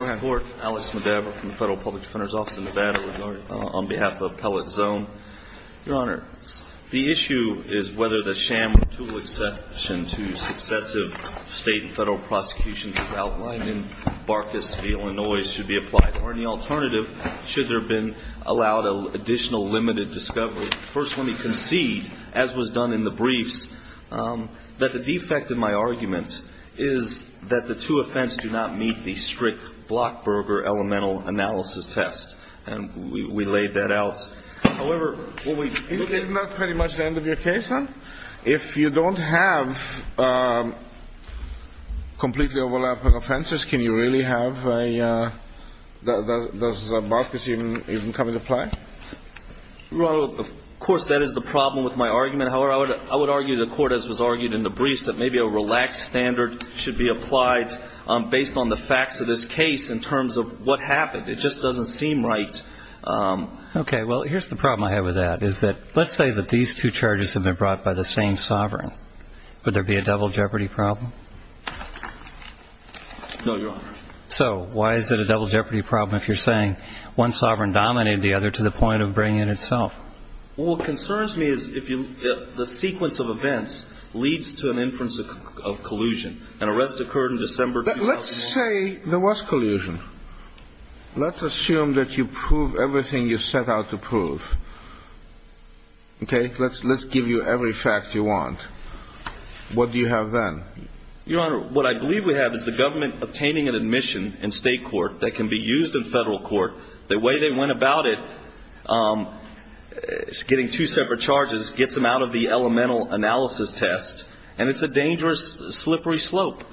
Alex Medebra from the Federal Public Defender's Office in Nevada on behalf of Pellet Zone. Your Honor, the issue is whether the sham or tool exception to successive state and federal prosecutions as outlined in Barkas v. Illinois should be applied or any alternative should there have been allowed additional limited discovery. First, let me concede, as was done in the briefs, that the defect in my argument is that the two offense do not meet the strict Blockberger elemental analysis test. And we laid that out. However, what we... Isn't that pretty much the end of your case, then? If you don't have completely overlapping offenses, can you really have a... Does Barkas even come into play? Your Honor, of course, that is the problem with my argument. However, I would argue the court, as was argued in the briefs, that maybe a relaxed standard should be applied based on the facts of this case in terms of what happened. It just doesn't seem right. Okay. Well, here's the problem I have with that, is that let's say that these two charges have been brought by the same sovereign. Would there be a double jeopardy problem? No, Your Honor. So why is it a double jeopardy problem if you're saying one sovereign dominated the other to the point of bringing it itself? Well, what concerns me is if the sequence of events leads to an inference of collusion. An arrest occurred in December 2001. Let's say there was collusion. Let's assume that you prove everything you set out to prove. Okay? Let's give you every fact you want. What do you have then? Your Honor, what I believe we have is the government obtaining an admission in state court that can be used in federal court. The way they went about it is getting two separate charges, gets them out of the elemental analysis test, and it's a dangerous, slippery slope.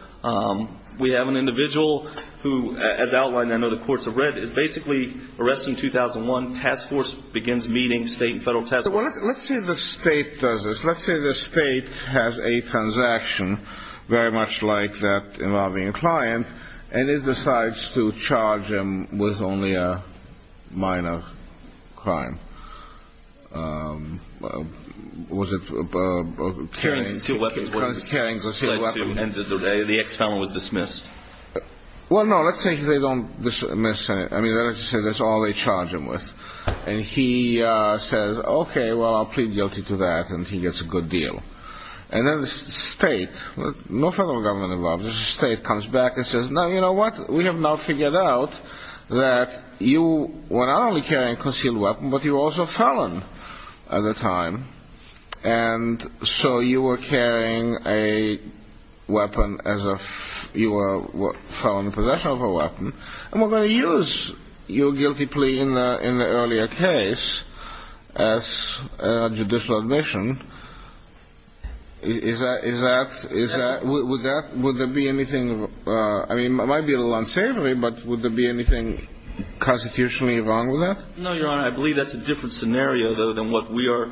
We have an individual who, as outlined, I know the courts have read, is basically arrested in 2001, task force begins meeting state and federal task force. Let's say the state does this. Let's say the state has a transaction very much like that involving a client, and it decides to charge him with only a minor crime. Was it carrying a concealed weapon? The ex-felon was dismissed. Well, no, let's say they don't dismiss him. I mean, let's just say that's all they charge him with. And he says, okay, well, I'll plead guilty to that, and he gets a good deal. And then the state, no federal government involved, the state comes back and says, no, you know what, we have now figured out that you were not only carrying a concealed weapon, but you were also a felon at the time. And so you were carrying a weapon as a felon in possession of a weapon, and we're going to use your guilty plea in the earlier case as a judicial admission. Is that – would that – would there be anything – I mean, it might be a little unsavory, but would there be anything constitutionally wrong with that? No, Your Honor, I believe that's a different scenario, though, than what we are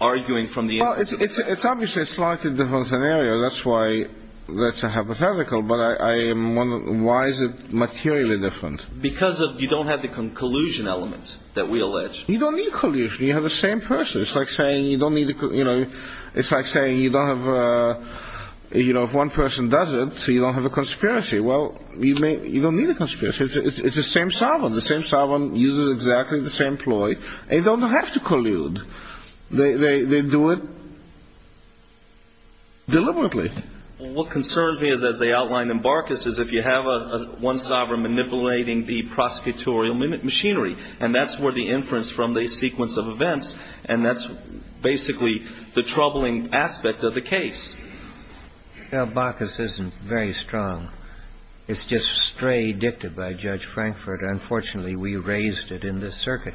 arguing from the agency perspective. Well, it's obviously a slightly different scenario. That's why that's a hypothetical, but I am wondering, why is it materially different? Because you don't have the collusion elements that we allege. You don't need collusion. You have the same person. It's like saying you don't need – it's like saying you don't have – if one person does it, so you don't have a conspiracy. Well, you don't need a conspiracy. It's the same sovereign. The same sovereign uses exactly the same ploy. They don't have to collude. They do it deliberately. Well, what concerns me is, as they outlined in Barkas, is if you have one sovereign manipulating the prosecutorial machinery, and that's where the inference from the sequence of events, and that's basically the troubling aspect of the case. Now, Barkas isn't very strong. It's just stray dicted by Judge Frankfurt. Unfortunately, we raised it in this circuit.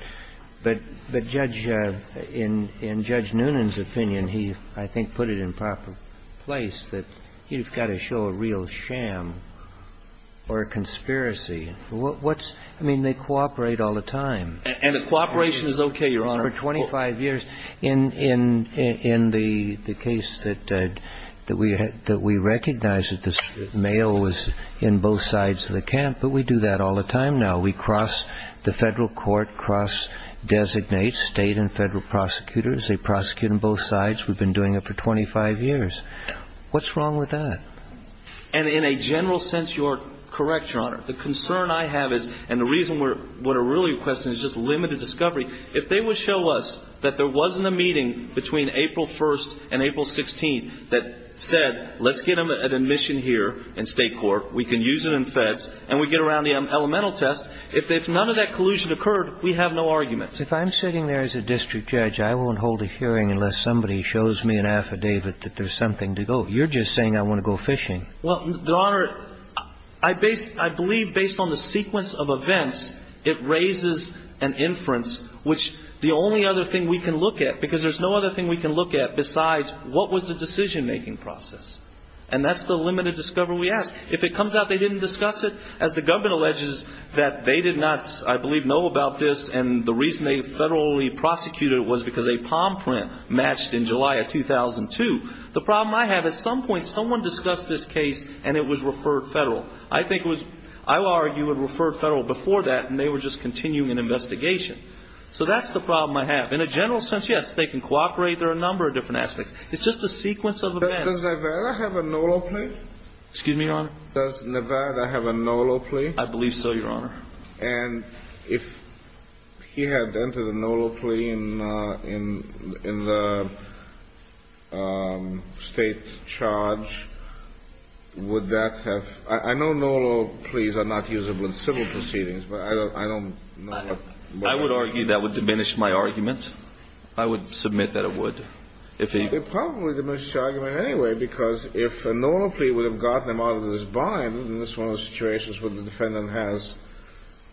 But Judge – in Judge Noonan's opinion, he, I think, put it in proper place that you've got to show a real sham or a conspiracy. What's – I mean, they cooperate all the time. And the cooperation is okay, Your Honor. For 25 years. In the case that we recognize that the mail was in both sides of the camp, but we do that all the time now. We cross – the federal court cross-designates state and federal prosecutors. They prosecute on both sides. We've been doing it for 25 years. What's wrong with that? And in a general sense, you're correct, Your Honor. The concern I have is – and the reason we're – what we're really requesting is just limited discovery. If they would show us that there wasn't a meeting between April 1st and April 16th that said, let's get them an admission here in state court, we can use it in feds, and we get around the elemental test. If none of that collusion occurred, we have no argument. If I'm sitting there as a district judge, I won't hold a hearing unless somebody shows me an affidavit that there's something to go. You're just saying I want to go fishing. Well, Your Honor, I believe based on the sequence of events, it raises an inference, which the only other thing we can look at, because there's no other thing we can look at besides what was the decision-making process. And that's the limited discovery we ask. If it comes out they didn't discuss it, as the government alleges that they did not, I believe, know about this, and the reason they federally prosecuted it was because a palm print matched in July of 2002. The problem I have, at some point someone discussed this case, and it was referred federal. I think it was – I would argue it referred federal before that, and they were just continuing an investigation. So that's the problem I have. In a general sense, yes, they can cooperate. It's just the sequence of events. Does Nevada have a NOLO plea? Excuse me, Your Honor? Does Nevada have a NOLO plea? I believe so, Your Honor. And if he had entered a NOLO plea in the state charge, would that have – I know NOLO pleas are not usable in civil proceedings, but I don't know what – I would argue that would diminish my argument. I would submit that it would. It would probably diminish the argument anyway, because if a NOLO plea would have gotten him out of his bind, then this is one of the situations where the defendant has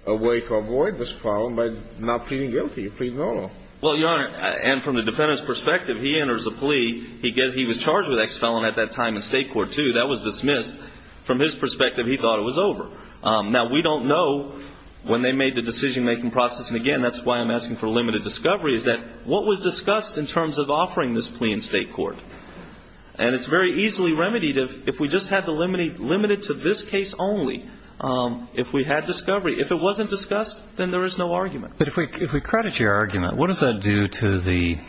a way to avoid this problem by not pleading guilty, pleading NOLO. Well, Your Honor, and from the defendant's perspective, he enters a plea. He was charged with ex felon at that time in state court, too. That was dismissed. From his perspective, he thought it was over. Now, we don't know when they made the decision-making process, and again, that's why I'm asking for limited discovery, is that what was discussed in terms of offering this plea in state court? And it's very easily remedied if we just had to limit it to this case only, if we had discovery. If it wasn't discussed, then there is no argument. But if we credit your argument, what does that do to the –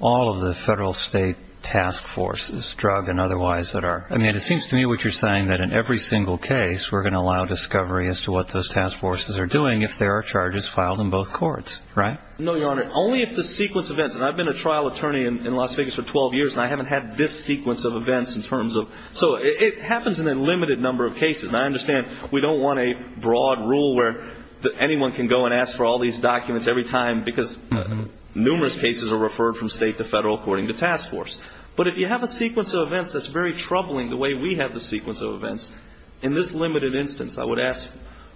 all of the federal state task forces, drug and otherwise, that are – I mean, it seems to me what you're saying, that in every single case, we're going to allow discovery as to what those task forces are doing if there are charges filed in both courts, right? No, Your Honor. Only if the sequence of events – and I've been a trial attorney in Las Vegas for 12 years, and I haven't had this sequence of events in terms of – so it happens in a limited number of cases. And I understand we don't want a broad rule where anyone can go and ask for all these documents every time because numerous cases are referred from state to federal according to task force. But if you have a sequence of events that's very troubling, the way we have the sequence of events, in this limited instance, I would ask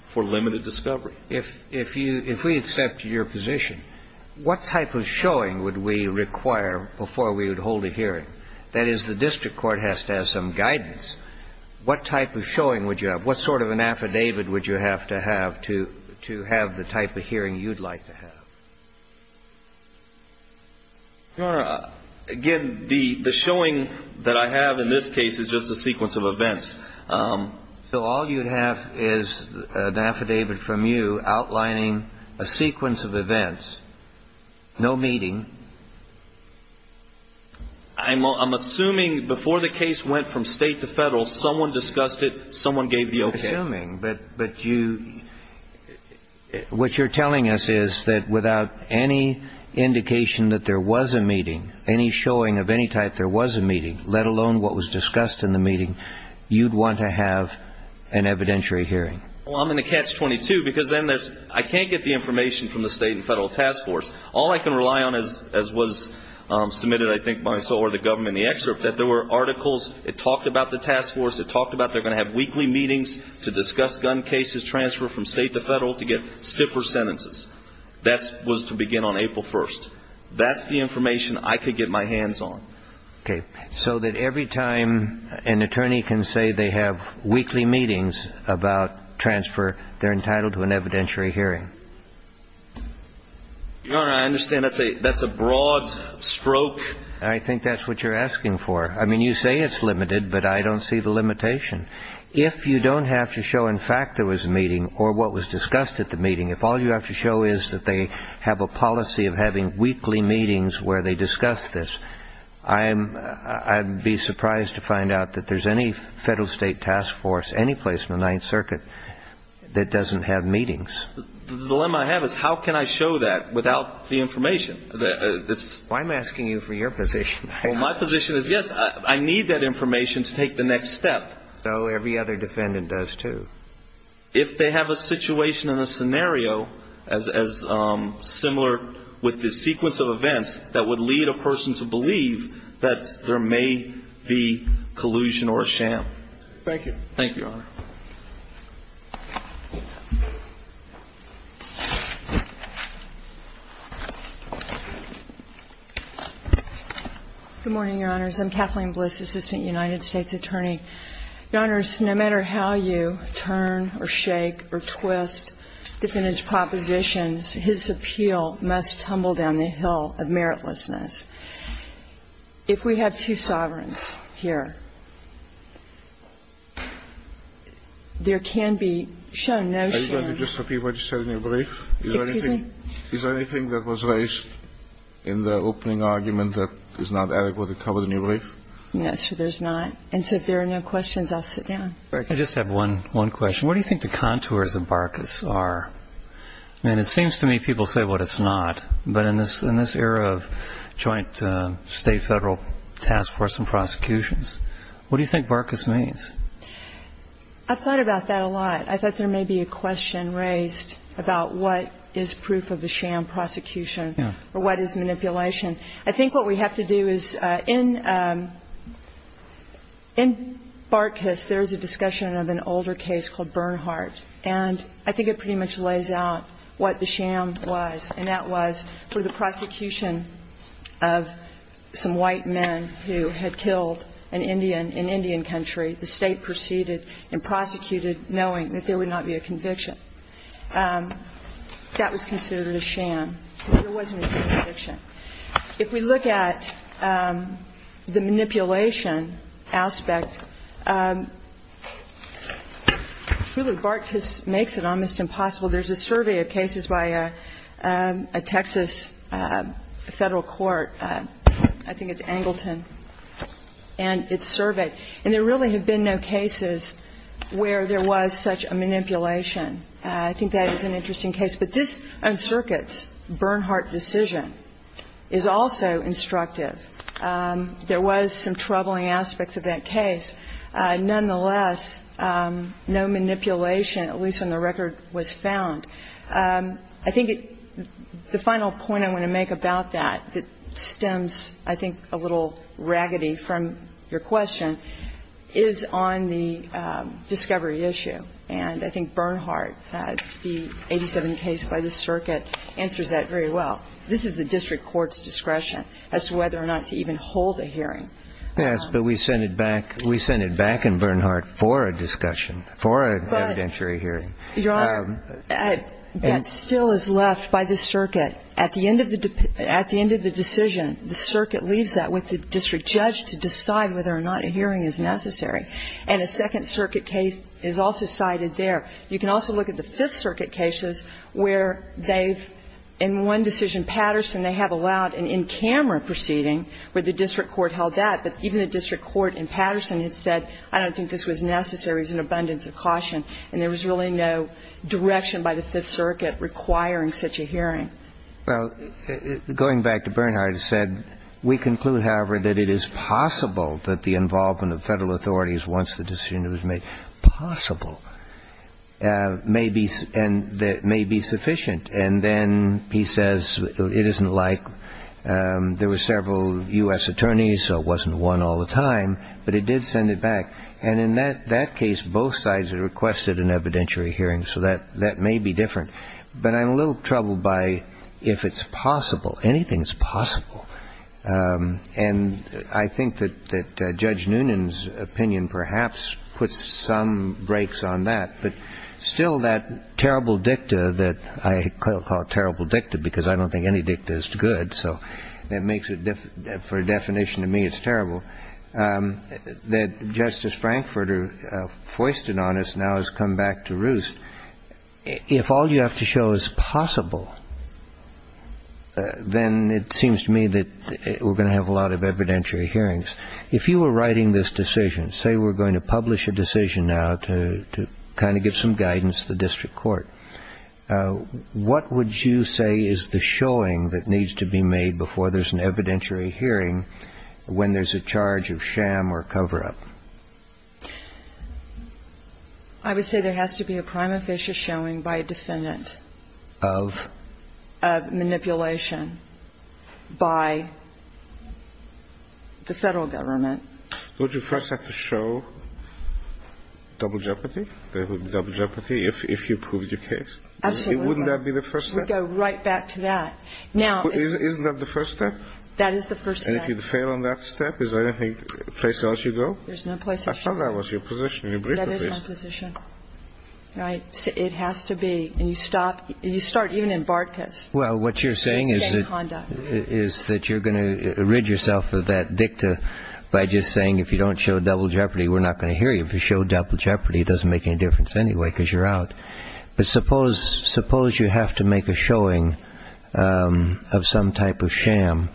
for limited discovery. If we accept your position, what type of showing would we require before we would hold a hearing? That is, the district court has to have some guidance. What type of showing would you have? What sort of an affidavit would you have to have to have the type of hearing you'd like to have? Your Honor, again, the showing that I have in this case is just a sequence of events. So all you'd have is an affidavit from you outlining a sequence of events, no meeting. I'm assuming before the case went from state to federal, someone discussed it, someone gave the opinion. I'm assuming. But you – what you're telling us is that without any indication that there was a meeting, any showing of any type there was a meeting, let alone what was discussed in the meeting, you'd want to have an evidentiary hearing. Well, I'm going to catch 22 because then there's – I can't get the information from the state and federal task force. All I can rely on, as was submitted, I think, by the government in the excerpt, that there were articles that talked about the task force, that talked about they're going to have weekly meetings to discuss gun cases, transfer from state to federal to get stiffer sentences. That was to begin on April 1st. That's the information I could get my hands on. Okay. So that every time an attorney can say they have weekly meetings about transfer, they're entitled to an evidentiary hearing. Your Honor, I understand that's a broad stroke. I think that's what you're asking for. I mean, you say it's limited, but I don't see the limitation. If you don't have to show in fact there was a meeting or what was discussed at the meeting, if all you have to show is that they have a policy of having weekly meetings where they discuss this, I'd be surprised to find out that there's any federal state task force, any place in the Ninth Circuit that doesn't have meetings. The dilemma I have is how can I show that without the information? Well, I'm asking you for your position. Well, my position is, yes, I need that information to take the next step. So every other defendant does too. If they have a situation and a scenario as similar with the sequence of events that would lead a person to believe that there may be collusion or a sham. Thank you. Thank you, Your Honor. Good morning, Your Honors. I'm Kathleen Bliss, assistant United States attorney. Your Honors, no matter how you turn or shake or twist defendants' propositions, his appeal must tumble down the hill of meritlessness. If we have two sovereigns here, there can be shown no sham. Are you going to just repeat what you said in your brief? Excuse me? Is there anything that was raised in the opening argument that is not adequately covered in your brief? No, sir, there's not. And so if there are no questions, I'll sit down. I just have one question. What do you think the contours of Barkas are? I mean, it seems to me people say what it's not, but in this era of joint state-federal task force and prosecutions, what do you think Barkas means? I've thought about that a lot. I thought there may be a question raised about what is proof of the sham prosecution or what is manipulation. I think what we have to do is in Barkas there is a discussion of an older case called Bernhardt, and I think it pretty much lays out what the sham was, and that was for the prosecution of some white men who had killed an Indian in Indian country. The state proceeded and prosecuted knowing that there would not be a conviction. That was considered a sham because there wasn't a conviction. If we look at the manipulation aspect, really Barkas makes it almost impossible. There's a survey of cases by a Texas federal court, I think it's Angleton, and it's surveyed, and there really have been no cases where there was such a manipulation. I think that is an interesting case. But this circuit's Bernhardt decision is also instructive. There was some troubling aspects of that case. Nonetheless, no manipulation, at least on the record, was found. I think the final point I want to make about that that stems I think a little raggedy from your question is on the discovery issue. And I think Bernhardt, the 87 case by the circuit, answers that very well. This is the district court's discretion as to whether or not to even hold a hearing. Yes, but we send it back in Bernhardt for a discussion, for an evidentiary hearing. Your Honor, that still is left by the circuit. At the end of the decision, the circuit leaves that with the district judge to decide whether or not a hearing is necessary. And a Second Circuit case is also cited there. You can also look at the Fifth Circuit cases where they've, in one decision, Patterson, they have allowed an in-camera proceeding where the district court held that. But even the district court in Patterson had said, I don't think this was necessary. It was an abundance of caution. And there was really no direction by the Fifth Circuit requiring such a hearing. Well, going back to Bernhardt said, we conclude, however, that it is possible that the involvement of federal authorities, once the decision was made possible, may be sufficient. And then he says it isn't like there were several U.S. attorneys, so it wasn't one all the time, but it did send it back. And in that case, both sides requested an evidentiary hearing, so that may be different. But I'm a little troubled by if it's possible. Anything is possible. And I think that Judge Noonan's opinion perhaps puts some brakes on that. But still, that terrible dicta that I call terrible dicta because I don't think any dicta is good, so that makes it, for a definition of me, it's terrible, that Justice Frankfurter foisted on us now has come back to roost. If all you have to show is possible, then it seems to me that we're going to have a lot of evidentiary hearings. If you were writing this decision, say we're going to publish a decision now to kind of give some guidance to the district court, what would you say is the showing that needs to be made before there's an evidentiary hearing when there's a charge of sham or cover-up? I would say there has to be a prima facie showing by a defendant of manipulation by the Federal Government. Would you first have to show double jeopardy? There would be double jeopardy if you proved your case. Absolutely. Wouldn't that be the first step? We'd go right back to that. Isn't that the first step? That is the first step. And if you fail on that step, is there any place else you'd go? There's no place else. I thought that was your position. That is my position. Right. It has to be. And you stop. You start even in Bartkus. Well, what you're saying is that you're going to rid yourself of that dicta by just saying if you don't show double jeopardy, we're not going to hear you. If you show double jeopardy, it doesn't make any difference anyway because you're out. But suppose you have to make a showing of some type of sham,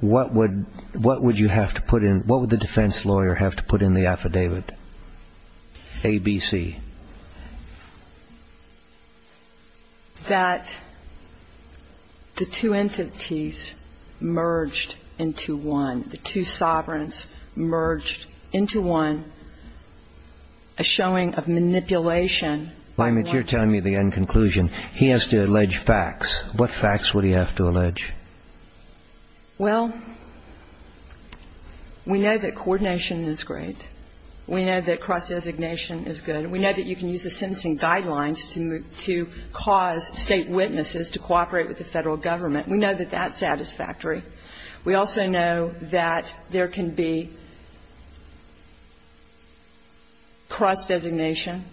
what would you have to put in? What would the defense lawyer have to put in the affidavit, A, B, C? That the two entities merged into one, the two sovereigns merged into one, a showing of manipulation. You're telling me the end conclusion. He has to allege facts. What facts would he have to allege? Well, we know that coordination is great. We know that cross designation is good. We know that you can use the sentencing guidelines to cause State witnesses to cooperate with the Federal Government. We know that that's satisfactory. We also know that there can be cross designation.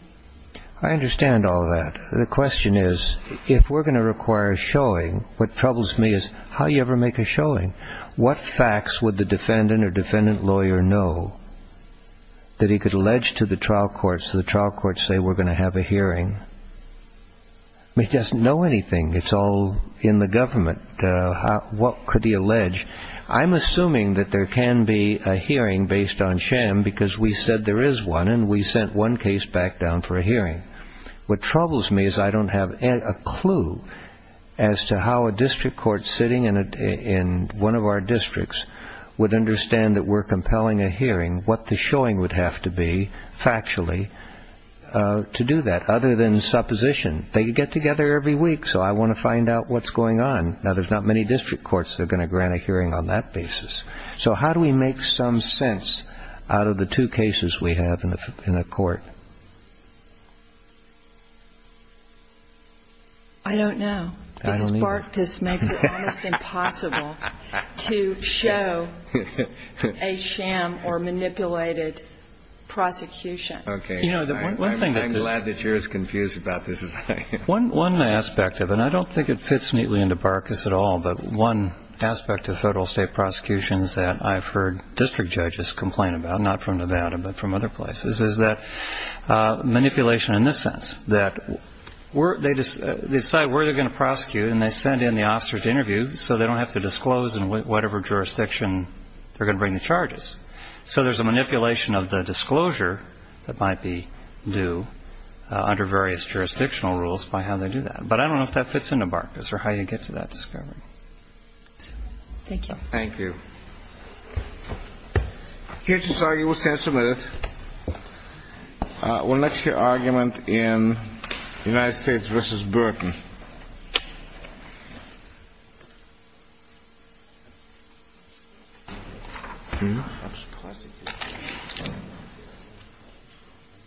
I understand all that. The question is if we're going to require a showing, what troubles me is how do you ever make a showing? What facts would the defendant or defendant lawyer know that he could allege to the trial court so the trial court say we're going to have a hearing? He doesn't know anything. It's all in the government. What could he allege? I'm assuming that there can be a hearing based on sham because we said there is one and we sent one case back down for a hearing. What troubles me is I don't have a clue as to how a district court sitting in one of our districts would understand that we're compelling a hearing, what the showing would have to be factually to do that other than supposition. They get together every week so I want to find out what's going on. Now, there's not many district courts that are going to grant a hearing on that basis. So how do we make some sense out of the two cases we have in the court? I don't know. Because Barkus makes it almost impossible to show a sham or manipulated prosecution. Okay. I'm glad that you're as confused about this as I am. One aspect of it, and I don't think it fits neatly into Barkus at all, but one aspect of federal state prosecutions that I've heard district judges complain about, not from Nevada but from other places, is that manipulation in this sense, that they decide where they're going to prosecute and they send in the officers to interview so they don't have to disclose in whatever jurisdiction they're going to bring the charges. So there's a manipulation of the disclosure that might be due under various jurisdictional rules by how they do that. But I don't know if that fits into Barkus or how you get to that discovery. Thank you. Thank you. The case is argued. We'll stand submitted. We'll next hear argument in United States v. Burton.